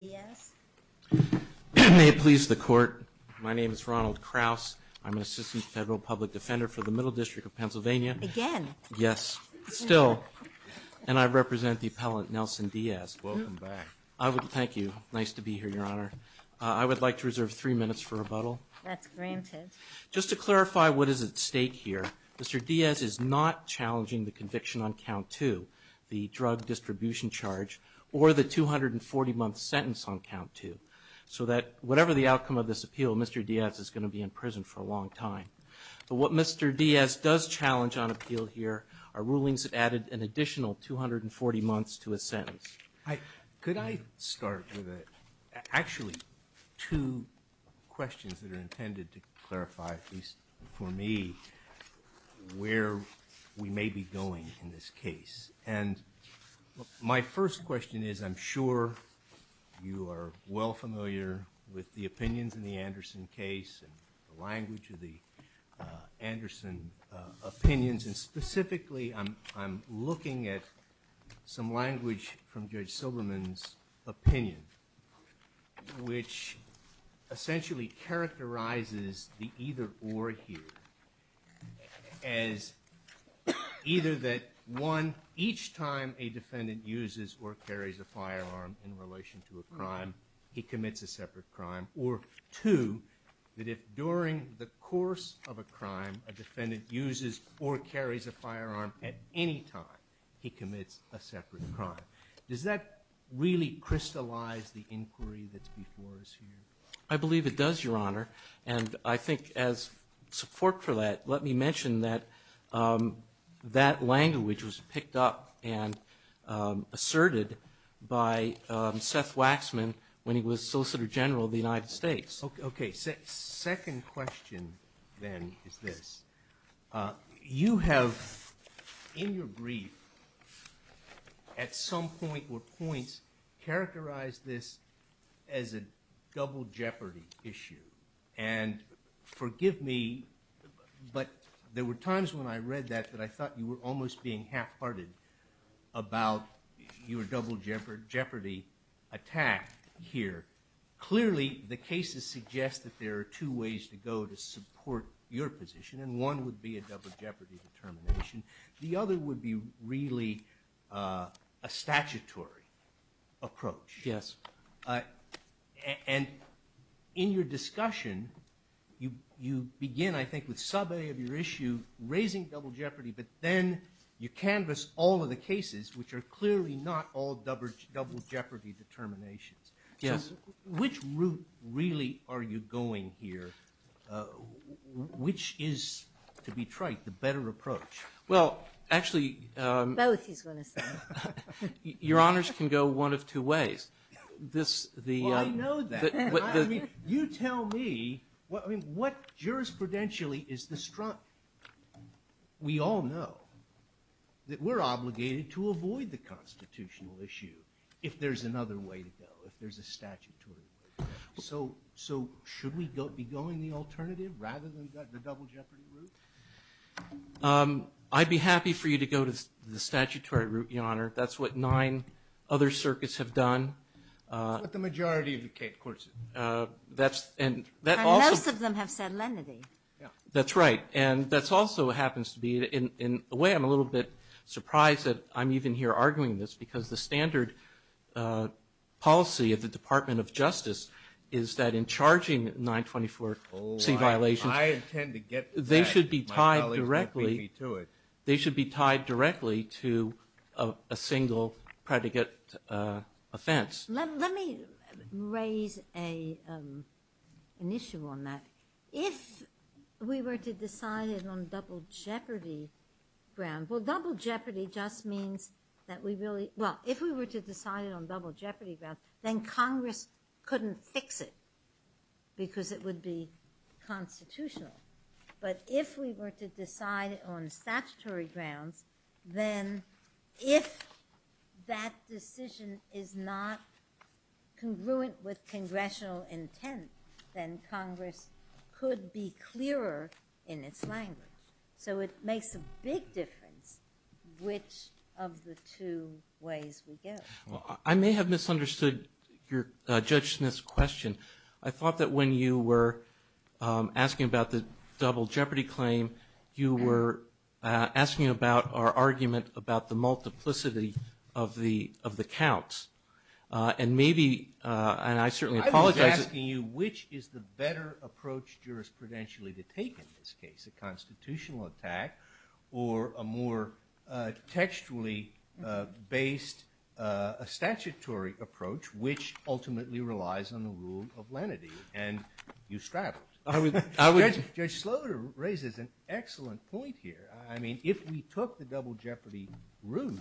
May it please the Court, my name is Ronald Kraus, I'm an Assistant Federal Public Defender for the Middle District of Pennsylvania, again, yes, still, and I represent the appellant Nelson Diaz. Welcome back. I would, thank you, nice to be here, Your Honor. I would like to reserve three minutes for rebuttal. That's granted. Just to clarify what is at stake here, Mr. Diaz is not challenging the conviction on the drug distribution charge or the 240-month sentence on count two. So that, whatever the outcome of this appeal, Mr. Diaz is going to be in prison for a long time. But what Mr. Diaz does challenge on appeal here are rulings that added an additional 240 months to his sentence. Could I start with a, actually, two questions that are intended to clarify, at least for me, where we may be going in this case. And my first question is, I'm sure you are well familiar with the opinions in the Anderson case, the language of the Anderson opinions, and specifically I'm looking at some language from Judge Silberman's opinion, which essentially characterizes the either or here as either that, one, each time a defendant uses or carries a firearm in relation to a crime, he commits a separate crime, or two, that if during the course of a crime a defendant uses or carries a firearm at any time, he commits a separate crime. Does that really crystallize the inquiry that's before us here? I believe it does, Your Honor. And I think as support for that, let me mention that that language was picked up and asserted by Seth Waxman when he was Solicitor General of the United States. Okay. Second question, then, is this. You have, in your brief, at some point or points, characterized this as a double jeopardy issue, and forgive me, but there were times when I read that that I thought you were almost being half-hearted about your double jeopardy attack here. Clearly, the cases suggest that there are two ways to go to support your position, and one would be a double jeopardy determination, the other would be really a statutory approach. Yes. And in your discussion, you begin, I think, with sub-A of your issue, raising double jeopardy, but then you canvass all of the cases which are clearly not all double jeopardy determinations. Yes. Which route, really, are you going here? Which is, to be trite, the better approach? Well, actually... Both, he's going to say. Your Honors can go one of two ways. This, the... Well, I know that. I mean, you tell me, I mean, what jurisprudentially is the strong... We all know that we're obligated to avoid the constitutional issue if there's another way to go, if there's a statutory way to go. So should we be going the alternative, rather than the double jeopardy route? I'd be happy for you to go to the statutory route, Your Honor. That's what nine other circuits have done. That's what the majority of the court said. That's... And most of them have said lenity. That's right. And that also happens to be, in a way, I'm a little bit surprised that I'm even here arguing this, because the standard policy of the Department of Justice is that in charging 924C violations, they should be tied directly to a single predicate offense. Let me raise an issue on that. If we were to decide on a double jeopardy ground, well, double jeopardy just means that we really... Well, if we were to decide it on double jeopardy grounds, then Congress couldn't fix it, because it would be constitutional. But if we were to decide it on statutory grounds, then if that decision is not congruent with congressional intent, then Congress could be clearer in its language. So it makes a big difference which of the two ways we go. Well, I may have misunderstood your, Judge Smith's question. I thought that when you were asking about the double jeopardy claim, you were asking about our argument about the multiplicity of the counts. And maybe, and I certainly apologize... I was asking you, which is the better approach jurisprudentially to take in this case, a constitutional attack, or a more textually based, a statutory approach, which ultimately relies on the rule of lenity, and you straddled it. Judge Sloder raises an excellent point here. I mean, if we took the double jeopardy route,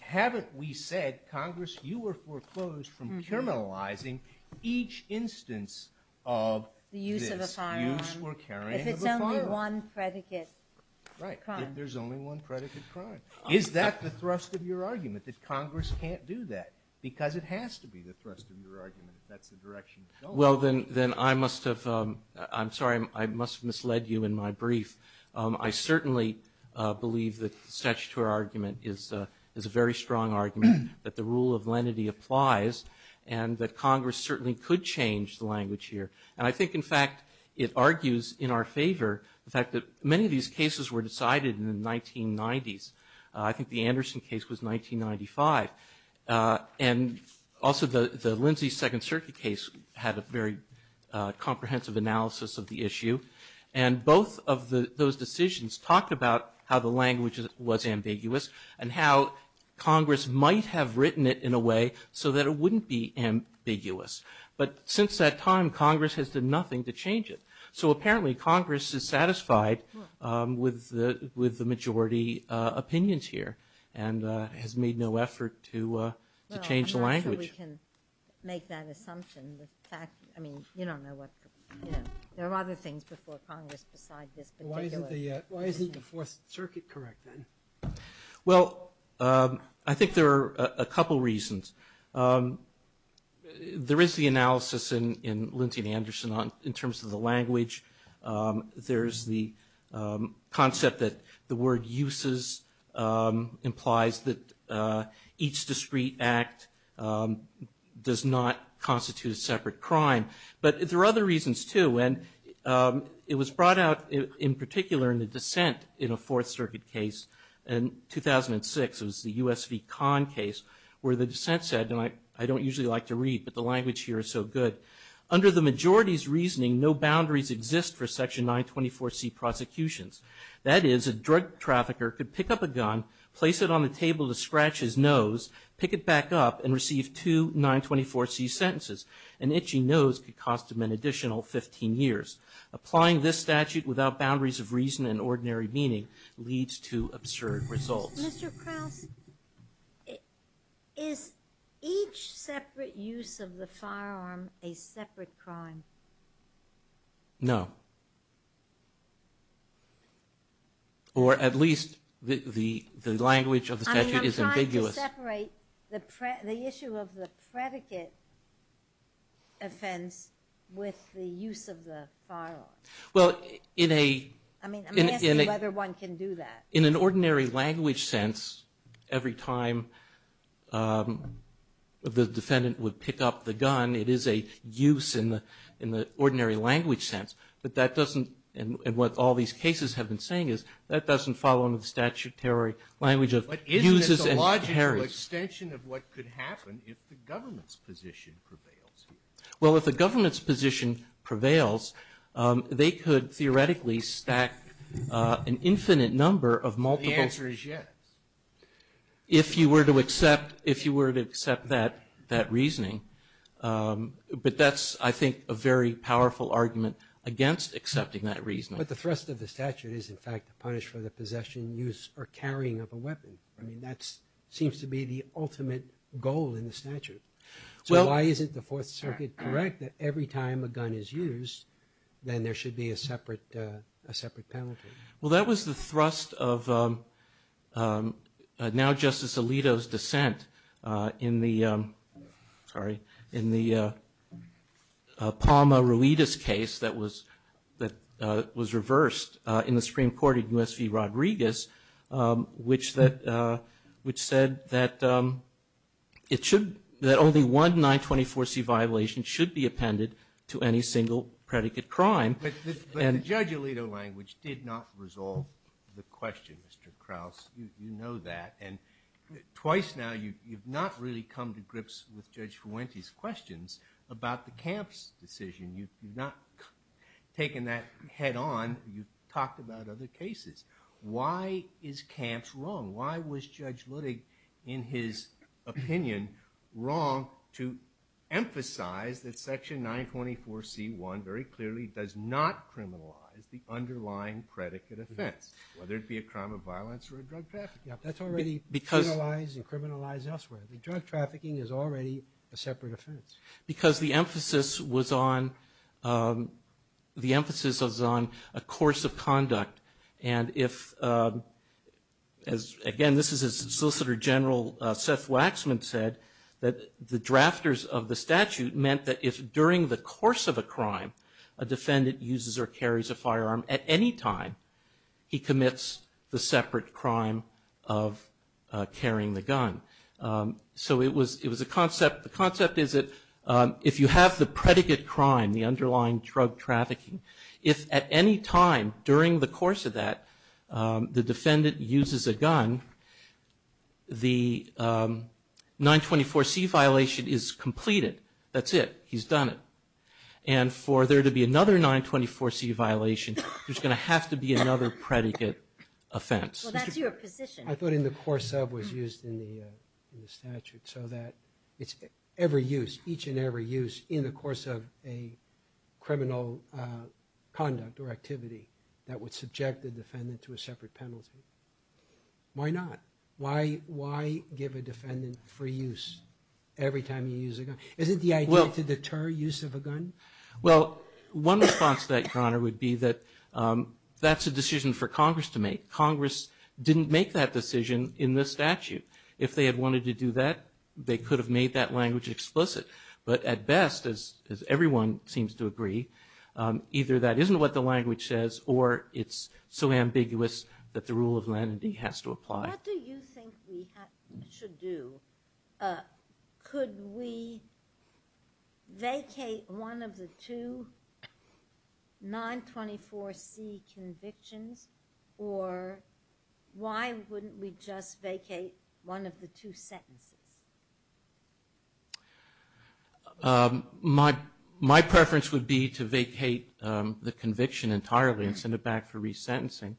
haven't we said, Congress, you were foreclosed from criminalizing each instance of this? Use or carrying of a firearm. If it's only one predicate crime. Right. If there's only one predicate crime. Is that the thrust of your argument, that Congress can't do that? Because it has to be the thrust of your argument if that's the direction it's going. Well, then I must have, I'm sorry, I must have misled you in my brief. I certainly believe that the statutory argument is a very strong argument, that the rule of lenity applies, and that Congress certainly could change the language here. And I think, in fact, it argues in our favor, the fact that many of these cases were decided in the 1990s. I think the Anderson case was 1995. And also the Lindsay Second Circuit case had a very comprehensive analysis of the issue. And both of those decisions talked about how the language was ambiguous, and how Congress might have written it in a way so that it wouldn't be ambiguous. But since that time, Congress has done nothing to change it. So apparently Congress is satisfied with the majority opinions here, and has made no effort Well, I'm not sure we can make that assumption. In fact, I mean, you don't know what, you know, there are other things before Congress besides this particular. Why isn't the Fourth Circuit correct then? Well, I think there are a couple reasons. There is the analysis in Lindsay and Anderson in terms of the language. There's the concept that the word uses implies that each discrete act does not constitute a separate crime. But there are other reasons, too. And it was brought out in particular in the dissent in a Fourth Circuit case in 2006. It was the U.S. v. Kahn case, where the dissent said, and I don't usually like to read, but the language here is so good. Under the majority's reasoning, no boundaries exist for Section 924C prosecutions. That is, a drug trafficker could pick up a gun, place it on the table to scratch his nose, pick it back up, and receive two 924C sentences. An itchy nose could cost him an additional 15 years. Applying this statute without boundaries of reason and ordinary meaning leads to absurd results. Mr. Krauss, is each separate use of the firearm a separate crime? No. Or at least the language of the statute is ambiguous. I mean, I'm trying to separate the issue of the predicate offense with the use of the firearm. Well, in a... I mean, I'm asking whether one can do that. In an ordinary language sense, every time the defendant would pick up the gun, it is a use in the ordinary language sense. But that doesn't, and what all these cases have been saying is, that doesn't fall under the statutory language of uses and parries. But isn't it the logical extension of what could happen if the government's position prevails? Well, if the government's position prevails, they could theoretically stack an infinite number of multiple... The answer is yes. If you were to accept that reasoning. But that's, I think, a very powerful argument against accepting that reasoning. But the thrust of the statute is, in fact, to punish for the possession, use, or carrying of a weapon. I mean, that seems to be the ultimate goal in the statute. So why is it the Fourth Circuit correct that every time a gun is used, then there should be a separate penalty? Well, that was the thrust of now Justice Alito's dissent in the... Sorry. In the Palma-Ruiz case that was reversed in the Supreme Court in U.S. v. Rodriguez, which said that it should... That only one 924C violation should be appended to any single predicate crime. But the Judge Alito language did not resolve the question, Mr. Krauss. You know that. And twice now you've not really come to grips with Judge Fuente's questions about the camps decision. You've not taken that head on. You've talked about other cases. Why is camps wrong? Why was Judge Ludwig, in his opinion, wrong to emphasize that Section 924C1 very clearly does not criminalize the underlying predicate offense, whether it be a crime of violence or a drug trafficking offense? That's already criminalized and criminalized elsewhere. Drug trafficking is already a separate offense. Because the emphasis was on a course of conduct. And if, again, this is as Solicitor General Seth Waxman said, that the drafters of the statute meant that if during the course of a crime a defendant uses or carries a firearm at any time, he commits the separate crime of carrying the gun. So it was a concept. The concept is that if you have the predicate crime, the underlying drug trafficking, if at any time during the course of that the defendant uses a gun, the 924C violation is completed. That's it. He's done it. And for there to be another 924C violation, there's going to have to be another predicate offense. Well, that's your position. I thought in the course of was used in the statute so that it's every use, each and every use in the course of a criminal conduct or activity that would subject the defendant to a separate penalty. Why not? Why give a defendant free use every time he uses a gun? Isn't the idea to deter use of a gun? Well, one response to that, Conor, would be that that's a decision for Congress to make. Congress didn't make that decision in the statute. If they had wanted to do that, they could have made that language explicit. But at best, as everyone seems to agree, either that isn't what the language says or it's so ambiguous that the rule of lenity has to apply. What do you think we should do? Could we vacate one of the two 924C convictions? Or why wouldn't we just vacate one of the two sentences? My preference would be to vacate the conviction entirely and send it back for resentencing.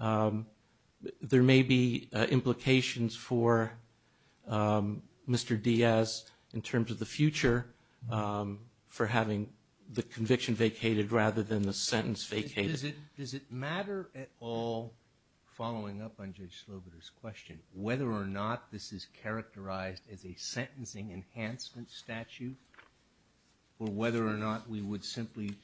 There may be implications for Mr. Diaz in terms of the future for having the conviction vacated rather than the sentence vacated. Does it matter at all, following up on Judge Sloboder's question, whether or not this is characterized as a sentencing enhancement statute or whether or not we would simply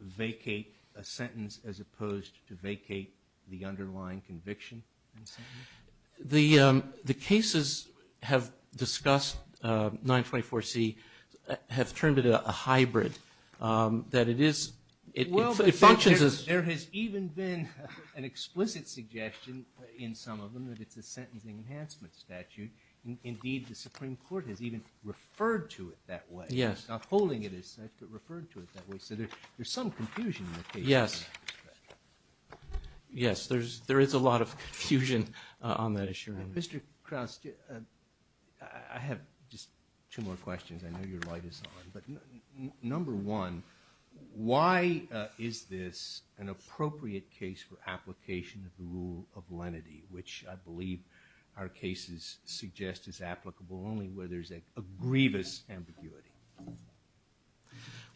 vacate a sentence as opposed to vacate the underlying conviction? The cases have discussed 924C have turned it a hybrid. There has even been an explicit suggestion in some of them that it's a sentencing enhancement statute. Indeed, the Supreme Court has even referred to it that way. It's not holding it as such, but referred to it that way. So there's some confusion in the case. Yes, there is a lot of confusion on that issue. Mr. Krauss, I have just two more questions. I know your light is on, but number one, why is this an appropriate case for application of the rule of lenity, which I believe our cases suggest is applicable only where there's a grievous ambiguity?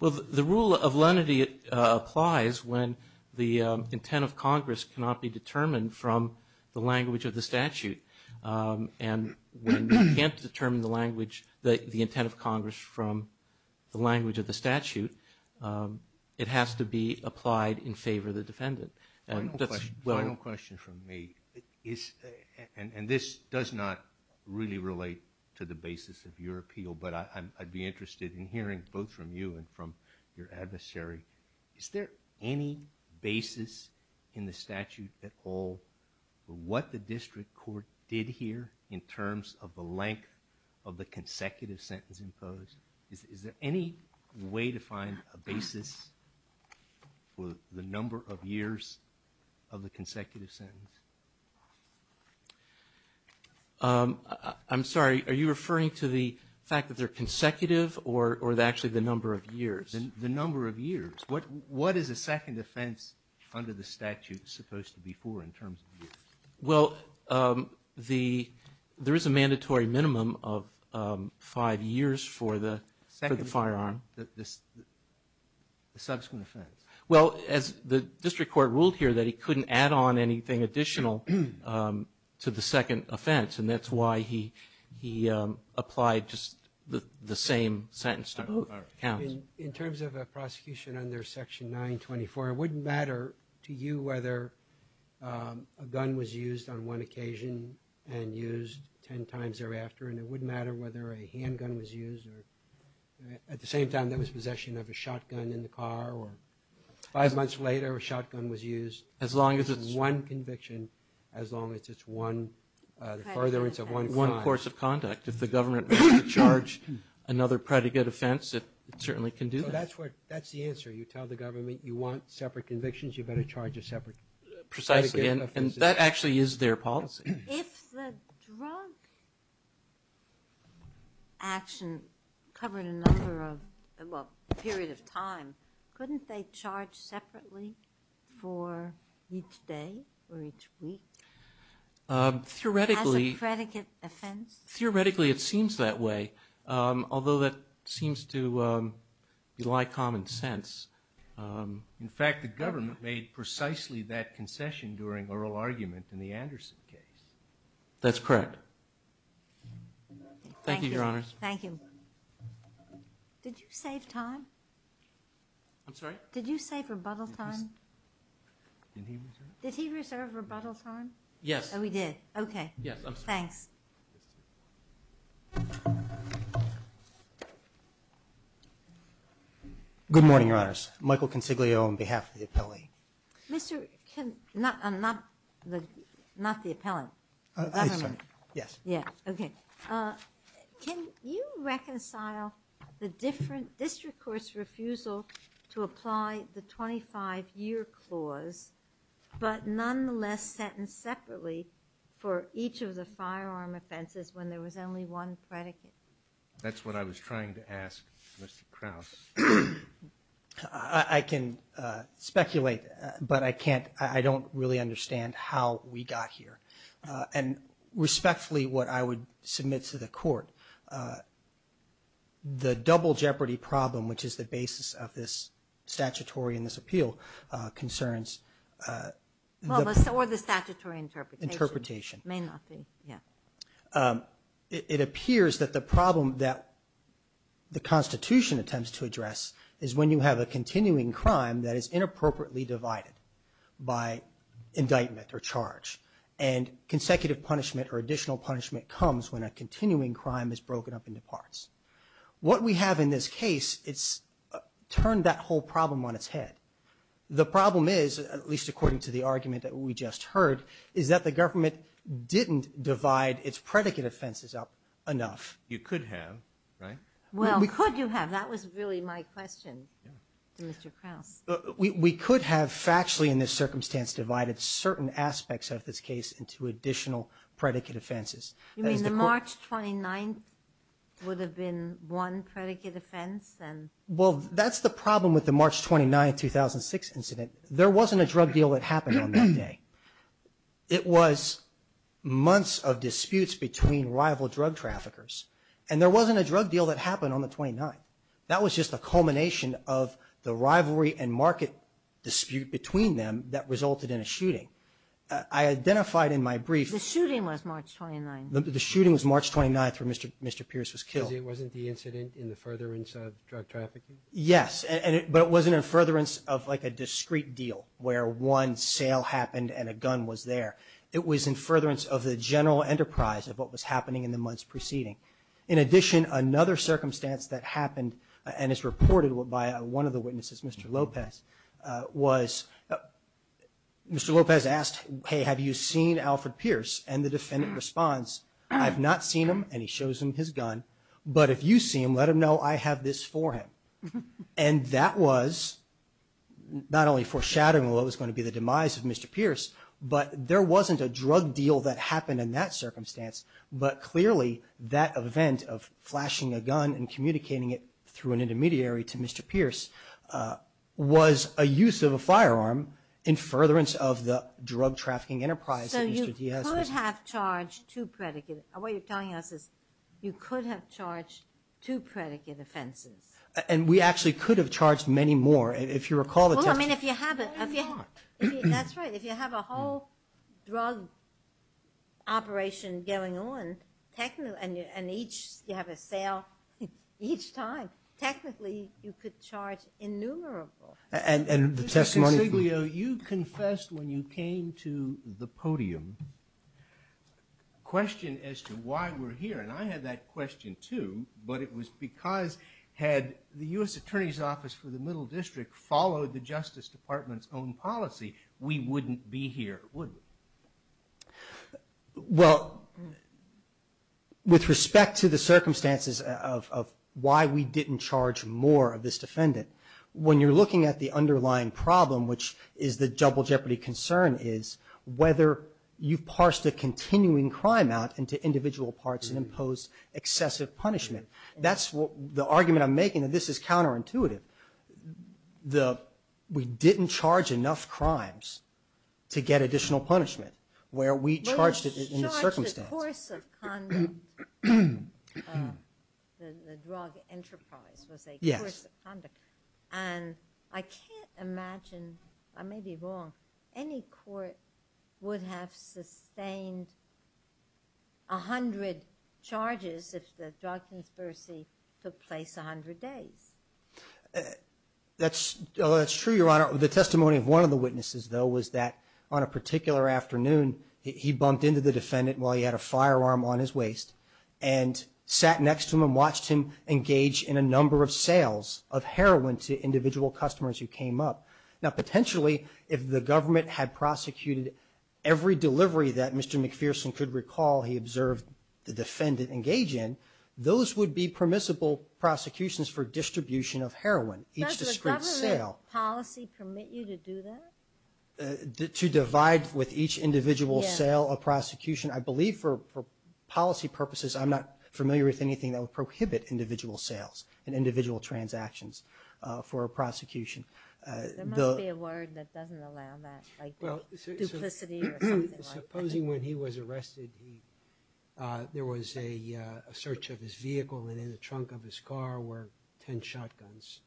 Well, the rule of lenity applies when the intent of Congress cannot be determined from the language of the statute. And when you can't determine the language, the intent of Congress from the language of the statute, it has to be applied in favor of the defendant. Final question from me. And this does not really relate to the basis of your appeal, but I'd be interested in hearing both from you and from your adversary. Is there any basis in the statute at all for what the district court did here in terms of the length of the consecutive sentence imposed? Is there any way to find a basis for the number of years of the consecutive sentence? I'm sorry. Are you referring to the fact that they're consecutive or actually the number of years? The number of years. What is a second offense under the statute supposed to be for in terms of years? Well, there is a mandatory minimum of five years for the firearm. The subsequent offense. Well, as the district court ruled here that he couldn't add on anything additional to the second offense, and that's why he applied just the same sentence to both counts. In terms of a prosecution under Section 924, it wouldn't matter to you whether a gun was used on one occasion and used ten times thereafter, and it wouldn't matter whether a handgun was used or, at the same time, there was possession of a shotgun in the car or five months later a shotgun was used. As long as it's one conviction, as long as it's one, the furtherance of one crime. If the government were to charge another predicate offense, it certainly can do that. That's the answer. You tell the government you want separate convictions, you better charge a separate predicate offense. Precisely, and that actually is their policy. If the drug action covered a number of, well, a period of time, couldn't they charge separately for each day or each week as a predicate offense? Theoretically, it seems that way, although that seems to be like common sense. In fact, the government made precisely that concession during oral argument in the Anderson case. That's correct. Thank you, Your Honors. Thank you. Did you save time? I'm sorry? Did you save rebuttal time? Did he reserve rebuttal time? Yes. Oh, he did. Okay. Yes, I'm sorry. Thanks. Good morning, Your Honors. Michael Consiglio on behalf of the appellee. Not the appellant. I'm sorry. Yes. Okay. Can you reconcile the different district court's refusal to apply the 25-year clause, but nonetheless sentence separately for each of the firearm offenses when there was only one predicate? That's what I was trying to ask Mr. Krauss. I can speculate, but I don't really understand how we got here. And respectfully, what I would submit to the court, the double jeopardy problem, which is the basis of this statutory and this appeal, concerns the Or the statutory interpretation. Interpretation. May not be, yeah. It appears that the problem that the Constitution attempts to address is when you have a continuing crime that is inappropriately divided by indictment or charge, and consecutive punishment or additional punishment comes when a continuing crime is broken up into parts. What we have in this case, it's turned that whole problem on its head. The problem is, at least according to the argument that we just heard, is that the government didn't divide its predicate offenses up enough. You could have, right? Well, could you have? That was really my question to Mr. Krauss. We could have factually in this circumstance divided certain aspects of this case into additional predicate offenses. You mean the March 29th would have been one predicate offense? Well, that's the problem with the March 29th, 2006 incident. There wasn't a drug deal that happened on that day. It was months of disputes between rival drug traffickers, and there wasn't a drug deal that happened on the 29th. That was just a culmination of the rivalry and market dispute between them that resulted in a shooting. I identified in my brief... The shooting was March 29th. The shooting was March 29th when Mr. Pierce was killed. It wasn't the incident in the furtherance of drug trafficking? Yes, but it wasn't in furtherance of like a discreet deal where one sale happened and a gun was there. It was in furtherance of the general enterprise of what was happening in the months preceding. In addition, another circumstance that happened and is reported by one of the witnesses, Mr. Lopez, was Mr. Lopez asked, hey, have you seen Alfred Pierce? And the defendant responds, I have not seen him, and he shows him his gun, but if you see him, let him know I have this for him. And that was not only foreshadowing what was going to be the demise of Mr. Pierce, but there wasn't a drug deal that happened in that circumstance, but clearly that event of flashing a gun and communicating it through an intermediary to Mr. Pierce was a use of a firearm in furtherance of the drug trafficking enterprise of Mr. Pierce. So you could have charged two predicate, what you're telling us is you could have charged two predicate offenses. And we actually could have charged many more. Well, I mean, if you have a whole drug operation going on and each you have a sale each time, technically you could charge innumerable. And the testimony. Mr. Consiglio, you confessed when you came to the podium, a question as to why we're here, and I had that question too, but it was because had the U.S. Attorney's Office for the Middle District followed the Justice Department's own policy, we wouldn't be here, would we? Well, with respect to the circumstances of why we didn't charge more of this defendant, when you're looking at the underlying problem, which is the double jeopardy concern, is whether you've parsed a continuing crime out into individual parts and imposed excessive punishment. That's the argument I'm making, that this is counterintuitive. We didn't charge enough crimes to get additional punishment, where we charged it in the circumstance. Well, you charged a course of conduct. The drug enterprise was a course of conduct. And I can't imagine, I may be wrong, any court would have sustained 100 charges if the drug conspiracy took place 100 days. That's true, Your Honor. The testimony of one of the witnesses, though, was that on a particular afternoon, he bumped into the defendant while he had a firearm on his waist and sat next to him and watched him engage in a number of sales of heroin to individual customers who came up. Now, potentially, if the government had prosecuted every delivery that Mr. McPherson could recall, he observed the defendant engage in, those would be permissible prosecutions for distribution of heroin. Does the government policy permit you to do that? To divide with each individual sale a prosecution. I believe for policy purposes, I'm not familiar with anything that would prohibit individual sales and individual transactions for a prosecution. There must be a word that doesn't allow that, like duplicity or something like that. Supposing when he was arrested, there was a search of his vehicle and in the trunk of his car were 10 shotguns.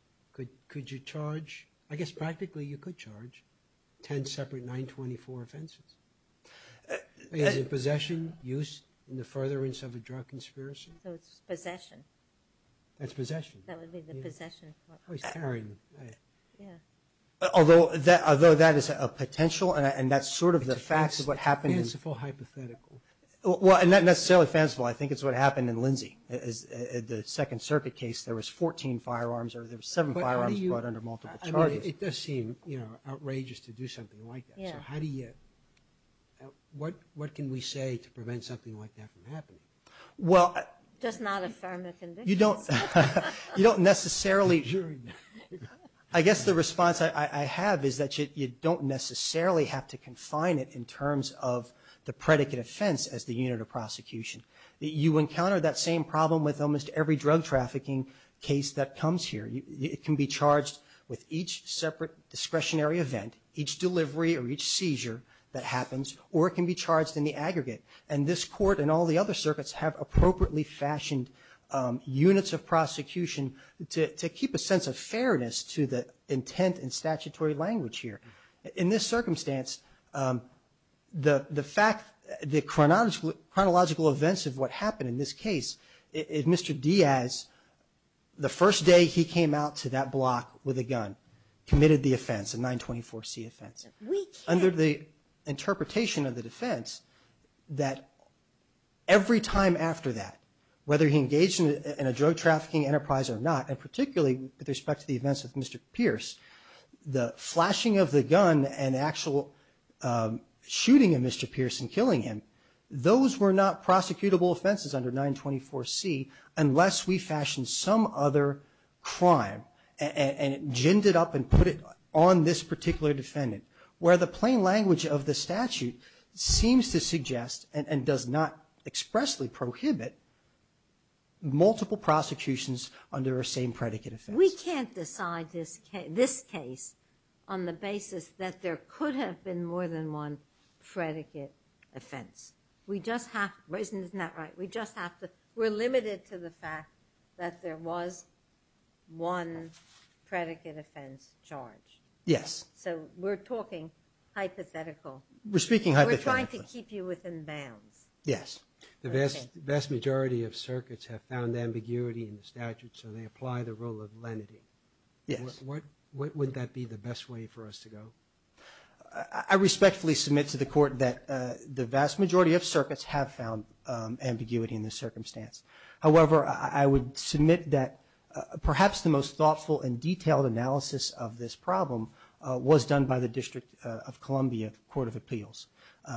Could you charge, I guess practically you could charge, 10 separate 924 offenses? Is it possession, use in the furtherance of a drug conspiracy? So it's possession. That's possession. That would be the possession. Oh, he's carrying. Yeah. Although that is a potential and that's sort of the facts of what happened. It's a fanciful hypothetical. Well, not necessarily fanciful. I think it's what happened in Lindsay. The Second Circuit case, there was 14 firearms or there were seven firearms brought under multiple charges. I mean, it does seem outrageous to do something like that. So how do you, what can we say to prevent something like that from happening? Well. Does not affirm the conviction. You don't necessarily. I guess the response I have is that you don't necessarily have to confine it in terms of the predicate offense as the unit of prosecution. You encounter that same problem with almost every drug trafficking case that comes here. It can be charged with each separate discretionary event, each delivery or each seizure that happens, or it can be charged in the aggregate. And this court and all the other circuits have appropriately fashioned units of prosecution to keep a sense of fairness to the intent and statutory language here. In this circumstance, the fact, the chronological events of what happened in this case, if Mr. Diaz, the first day he came out to that block with a gun, committed the offense, a 924C offense. We can't. interpretation of the defense that every time after that, whether he engaged in a drug trafficking enterprise or not, and particularly with respect to the events of Mr. Pierce, the flashing of the gun and actual shooting of Mr. Pierce and killing him, those were not prosecutable offenses under 924C unless we fashioned some other crime and ginned it up and put it on this particular defendant. Where the plain language of the statute seems to suggest and does not expressly prohibit multiple prosecutions under the same predicate offense. We can't decide this case on the basis that there could have been more than one predicate offense. We just have to, isn't that right? We just have to, we're limited to the fact that there was one predicate offense charge. Yes. So we're talking hypothetical. We're speaking hypothetical. We're trying to keep you within bounds. Yes. The vast majority of circuits have found ambiguity in the statute, so they apply the rule of lenity. Yes. What would that be the best way for us to go? I respectfully submit to the court that the vast majority of circuits have found ambiguity in this circumstance. However, I would submit that perhaps the most thoughtful and detailed analysis of this problem was done by the District of Columbia Court of Appeals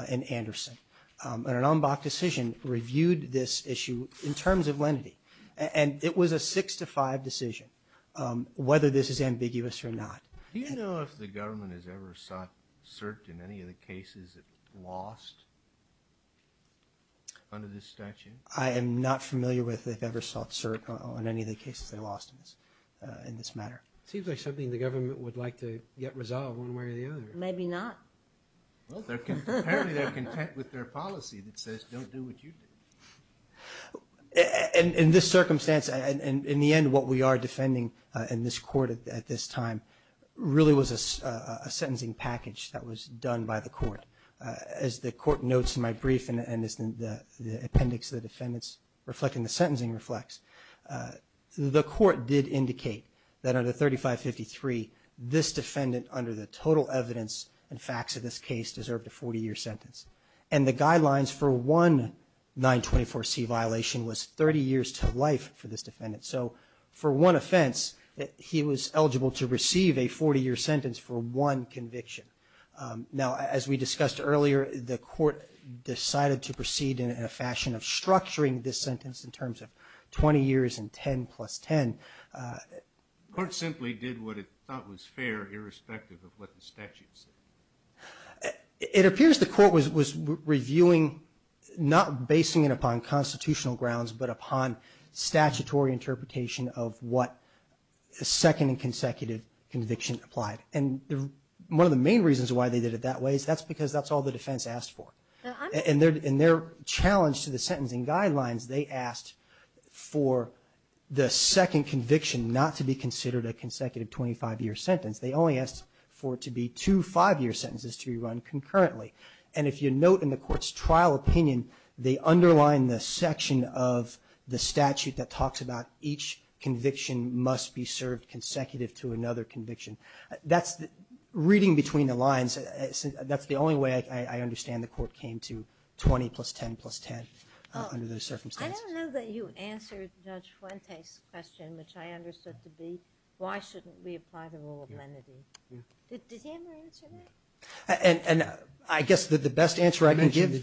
and Anderson. An en banc decision reviewed this issue in terms of lenity, and it was a six to five decision whether this is ambiguous or not. Do you know if the government has ever sought cert in any of the cases it lost under this statute? I am not familiar with if they've ever sought cert on any of the cases they lost in this matter. It seems like something the government would like to get resolved one way or the other. Maybe not. Apparently they're content with their policy that says don't do what you did. In this circumstance, in the end, what we are defending in this court at this time really was a sentencing package that was done by the court. As the court notes in my brief and as the appendix of the defendants reflecting the sentencing reflects, the court did indicate that under 3553, this defendant under the total evidence and facts of this case deserved a 40-year sentence. And the guidelines for one 924C violation was 30 years to life for this defendant. So for one offense, he was eligible to receive a 40-year sentence for one conviction. Now, as we discussed earlier, the court decided to proceed in a fashion of structuring this sentence in terms of 20 years and 10 plus 10. The court simply did what it thought was fair irrespective of what the statute said. It appears the court was reviewing, not basing it upon constitutional grounds, but upon statutory interpretation of what a second and consecutive conviction applied. And one of the main reasons why they did it that way is that's because that's all the defense asked for. In their challenge to the sentencing guidelines, they asked for the second conviction not to be considered a consecutive 25-year sentence. They only asked for it to be two 5-year sentences to be run concurrently. And if you note in the court's trial opinion, they underline the section of the statute that talks about each conviction must be served consecutive to another conviction. Reading between the lines, that's the only way I understand the court came to 20 plus 10 plus 10 under those circumstances. I don't know that you answered Judge Fuentes' question, which I understood to be, why shouldn't we apply the rule of lenity? Did he ever answer that? And I guess the best answer I can give...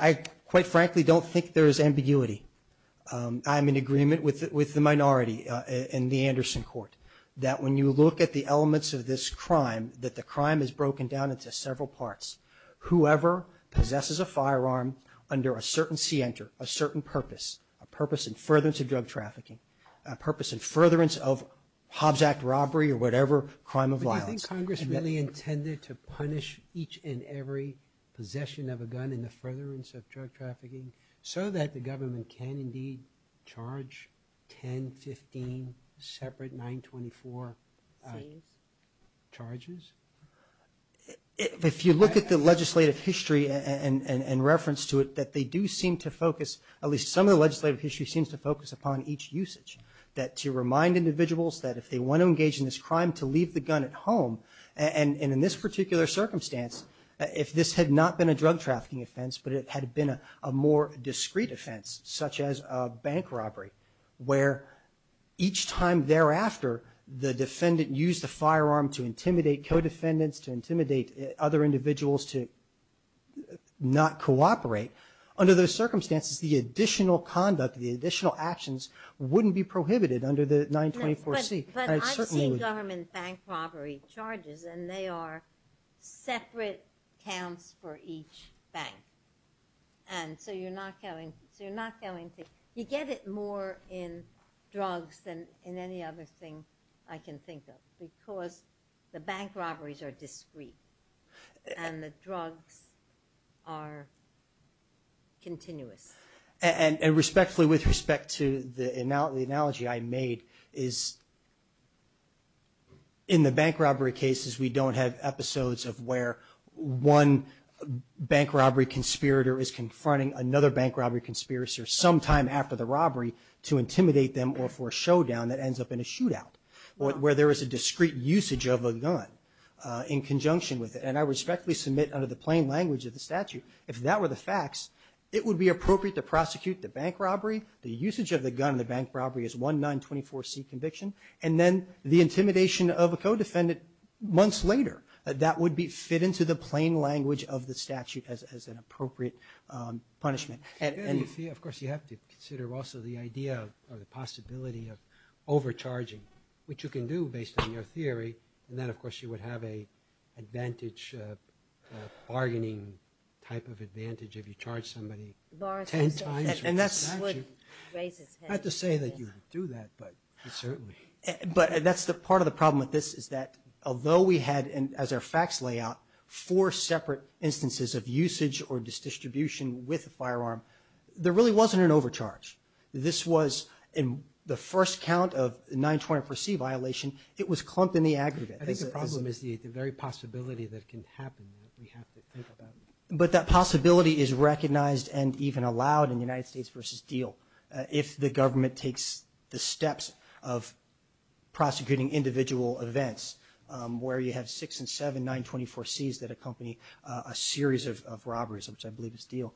I quite frankly don't think there's ambiguity. I'm in agreement with the minority in the Anderson court that when you look at the elements of this crime, that the crime is broken down into several parts. Whoever possesses a firearm under a certain scienter, a certain purpose, a purpose in furtherance of drug trafficking, a purpose in furtherance of Hobbs Act robbery or whatever crime of violence... so that the government can indeed charge 10, 15 separate 924 charges? If you look at the legislative history and reference to it, that they do seem to focus, at least some of the legislative history seems to focus upon each usage. That to remind individuals that if they want to engage in this crime, to leave the gun at home. And in this particular circumstance, if this had not been a drug trafficking offense, but it had been a more discrete offense, such as a bank robbery, where each time thereafter the defendant used the firearm to intimidate co-defendants, to intimidate other individuals to not cooperate. Under those circumstances, the additional conduct, the additional actions wouldn't be prohibited under the 924C. But I've seen government bank robbery charges and they are separate counts for each bank. And so you're not going to... you get it more in drugs than in any other thing I can think of because the bank robberies are discrete and the drugs are continuous. And respectfully, with respect to the analogy I made, is in the bank robbery cases, we don't have episodes of where one bank robbery conspirator is confronting another bank robbery conspirator sometime after the robbery to intimidate them or for a showdown that ends up in a shootout, where there is a discrete usage of a gun in conjunction with it. And I respectfully submit under the plain language of the statute, if that were the facts, it would be appropriate to prosecute the bank robbery. The usage of the gun in the bank robbery is one 924C conviction. And then the intimidation of a co-defendant months later, that would fit into the plain language of the statute as an appropriate punishment. Of course, you have to consider also the idea or the possibility of overcharging, which you can do based on your theory. And then, of course, you would have an advantage, a bargaining type of advantage if you charge somebody ten times for a statute. Not to say that you would do that, but certainly. But that's part of the problem with this, is that although we had, as our facts lay out, four separate instances of usage or distribution with a firearm, there really wasn't an overcharge. This was in the first count of 924C violation, it was clumped in the aggregate. I think the problem is the very possibility that it can happen that we have to think about. But that possibility is recognized and even allowed in the United States v. Deal if the government takes the steps of prosecuting individual events where you have six and seven 924Cs that accompany a series of robberies, which I believe is Deal.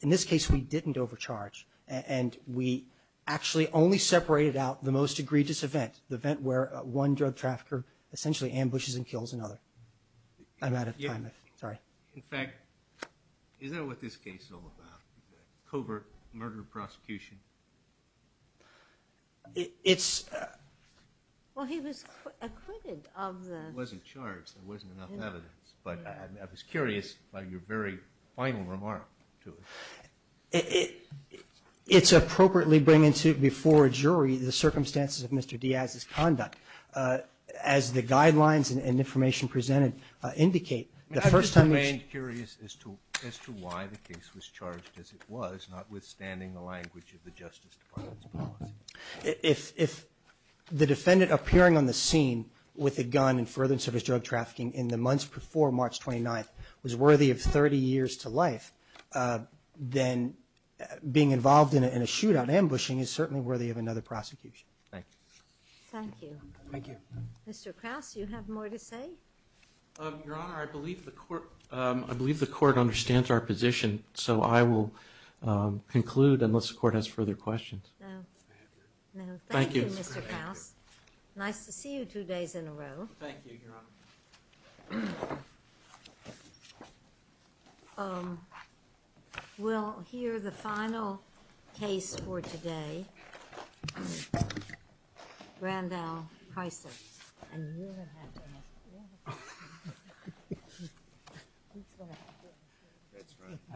In this case, we didn't overcharge, and we actually only separated out the most egregious event, the event where one drug trafficker essentially ambushes and kills another. I'm out of time. Sorry. In fact, is that what this case is all about? Covert murder prosecution? It's... Well, he was acquitted of the... He wasn't charged. There wasn't enough evidence. But I was curious about your very final remark to it. It's appropriately bring into before a jury the circumstances of Mr. Diaz's conduct. As the guidelines and information presented indicate, the first time... I just remained curious as to why the case was charged as it was, notwithstanding the language of the Justice Department's policy. If the defendant appearing on the scene with a gun in furtherance of his drug trafficking in the months before March 29th was worthy of 30 years to life, then being involved in a shootout ambushing is certainly worthy of another prosecution. Thank you. Thank you. Thank you. Mr. Krause, you have more to say? Your Honor, I believe the court understands our position, so I will conclude unless the court has further questions. No. Thank you, Mr. Krause. Nice to see you two days in a row. Thank you, Your Honor. We'll hear the final case for today. Randall Chrysler.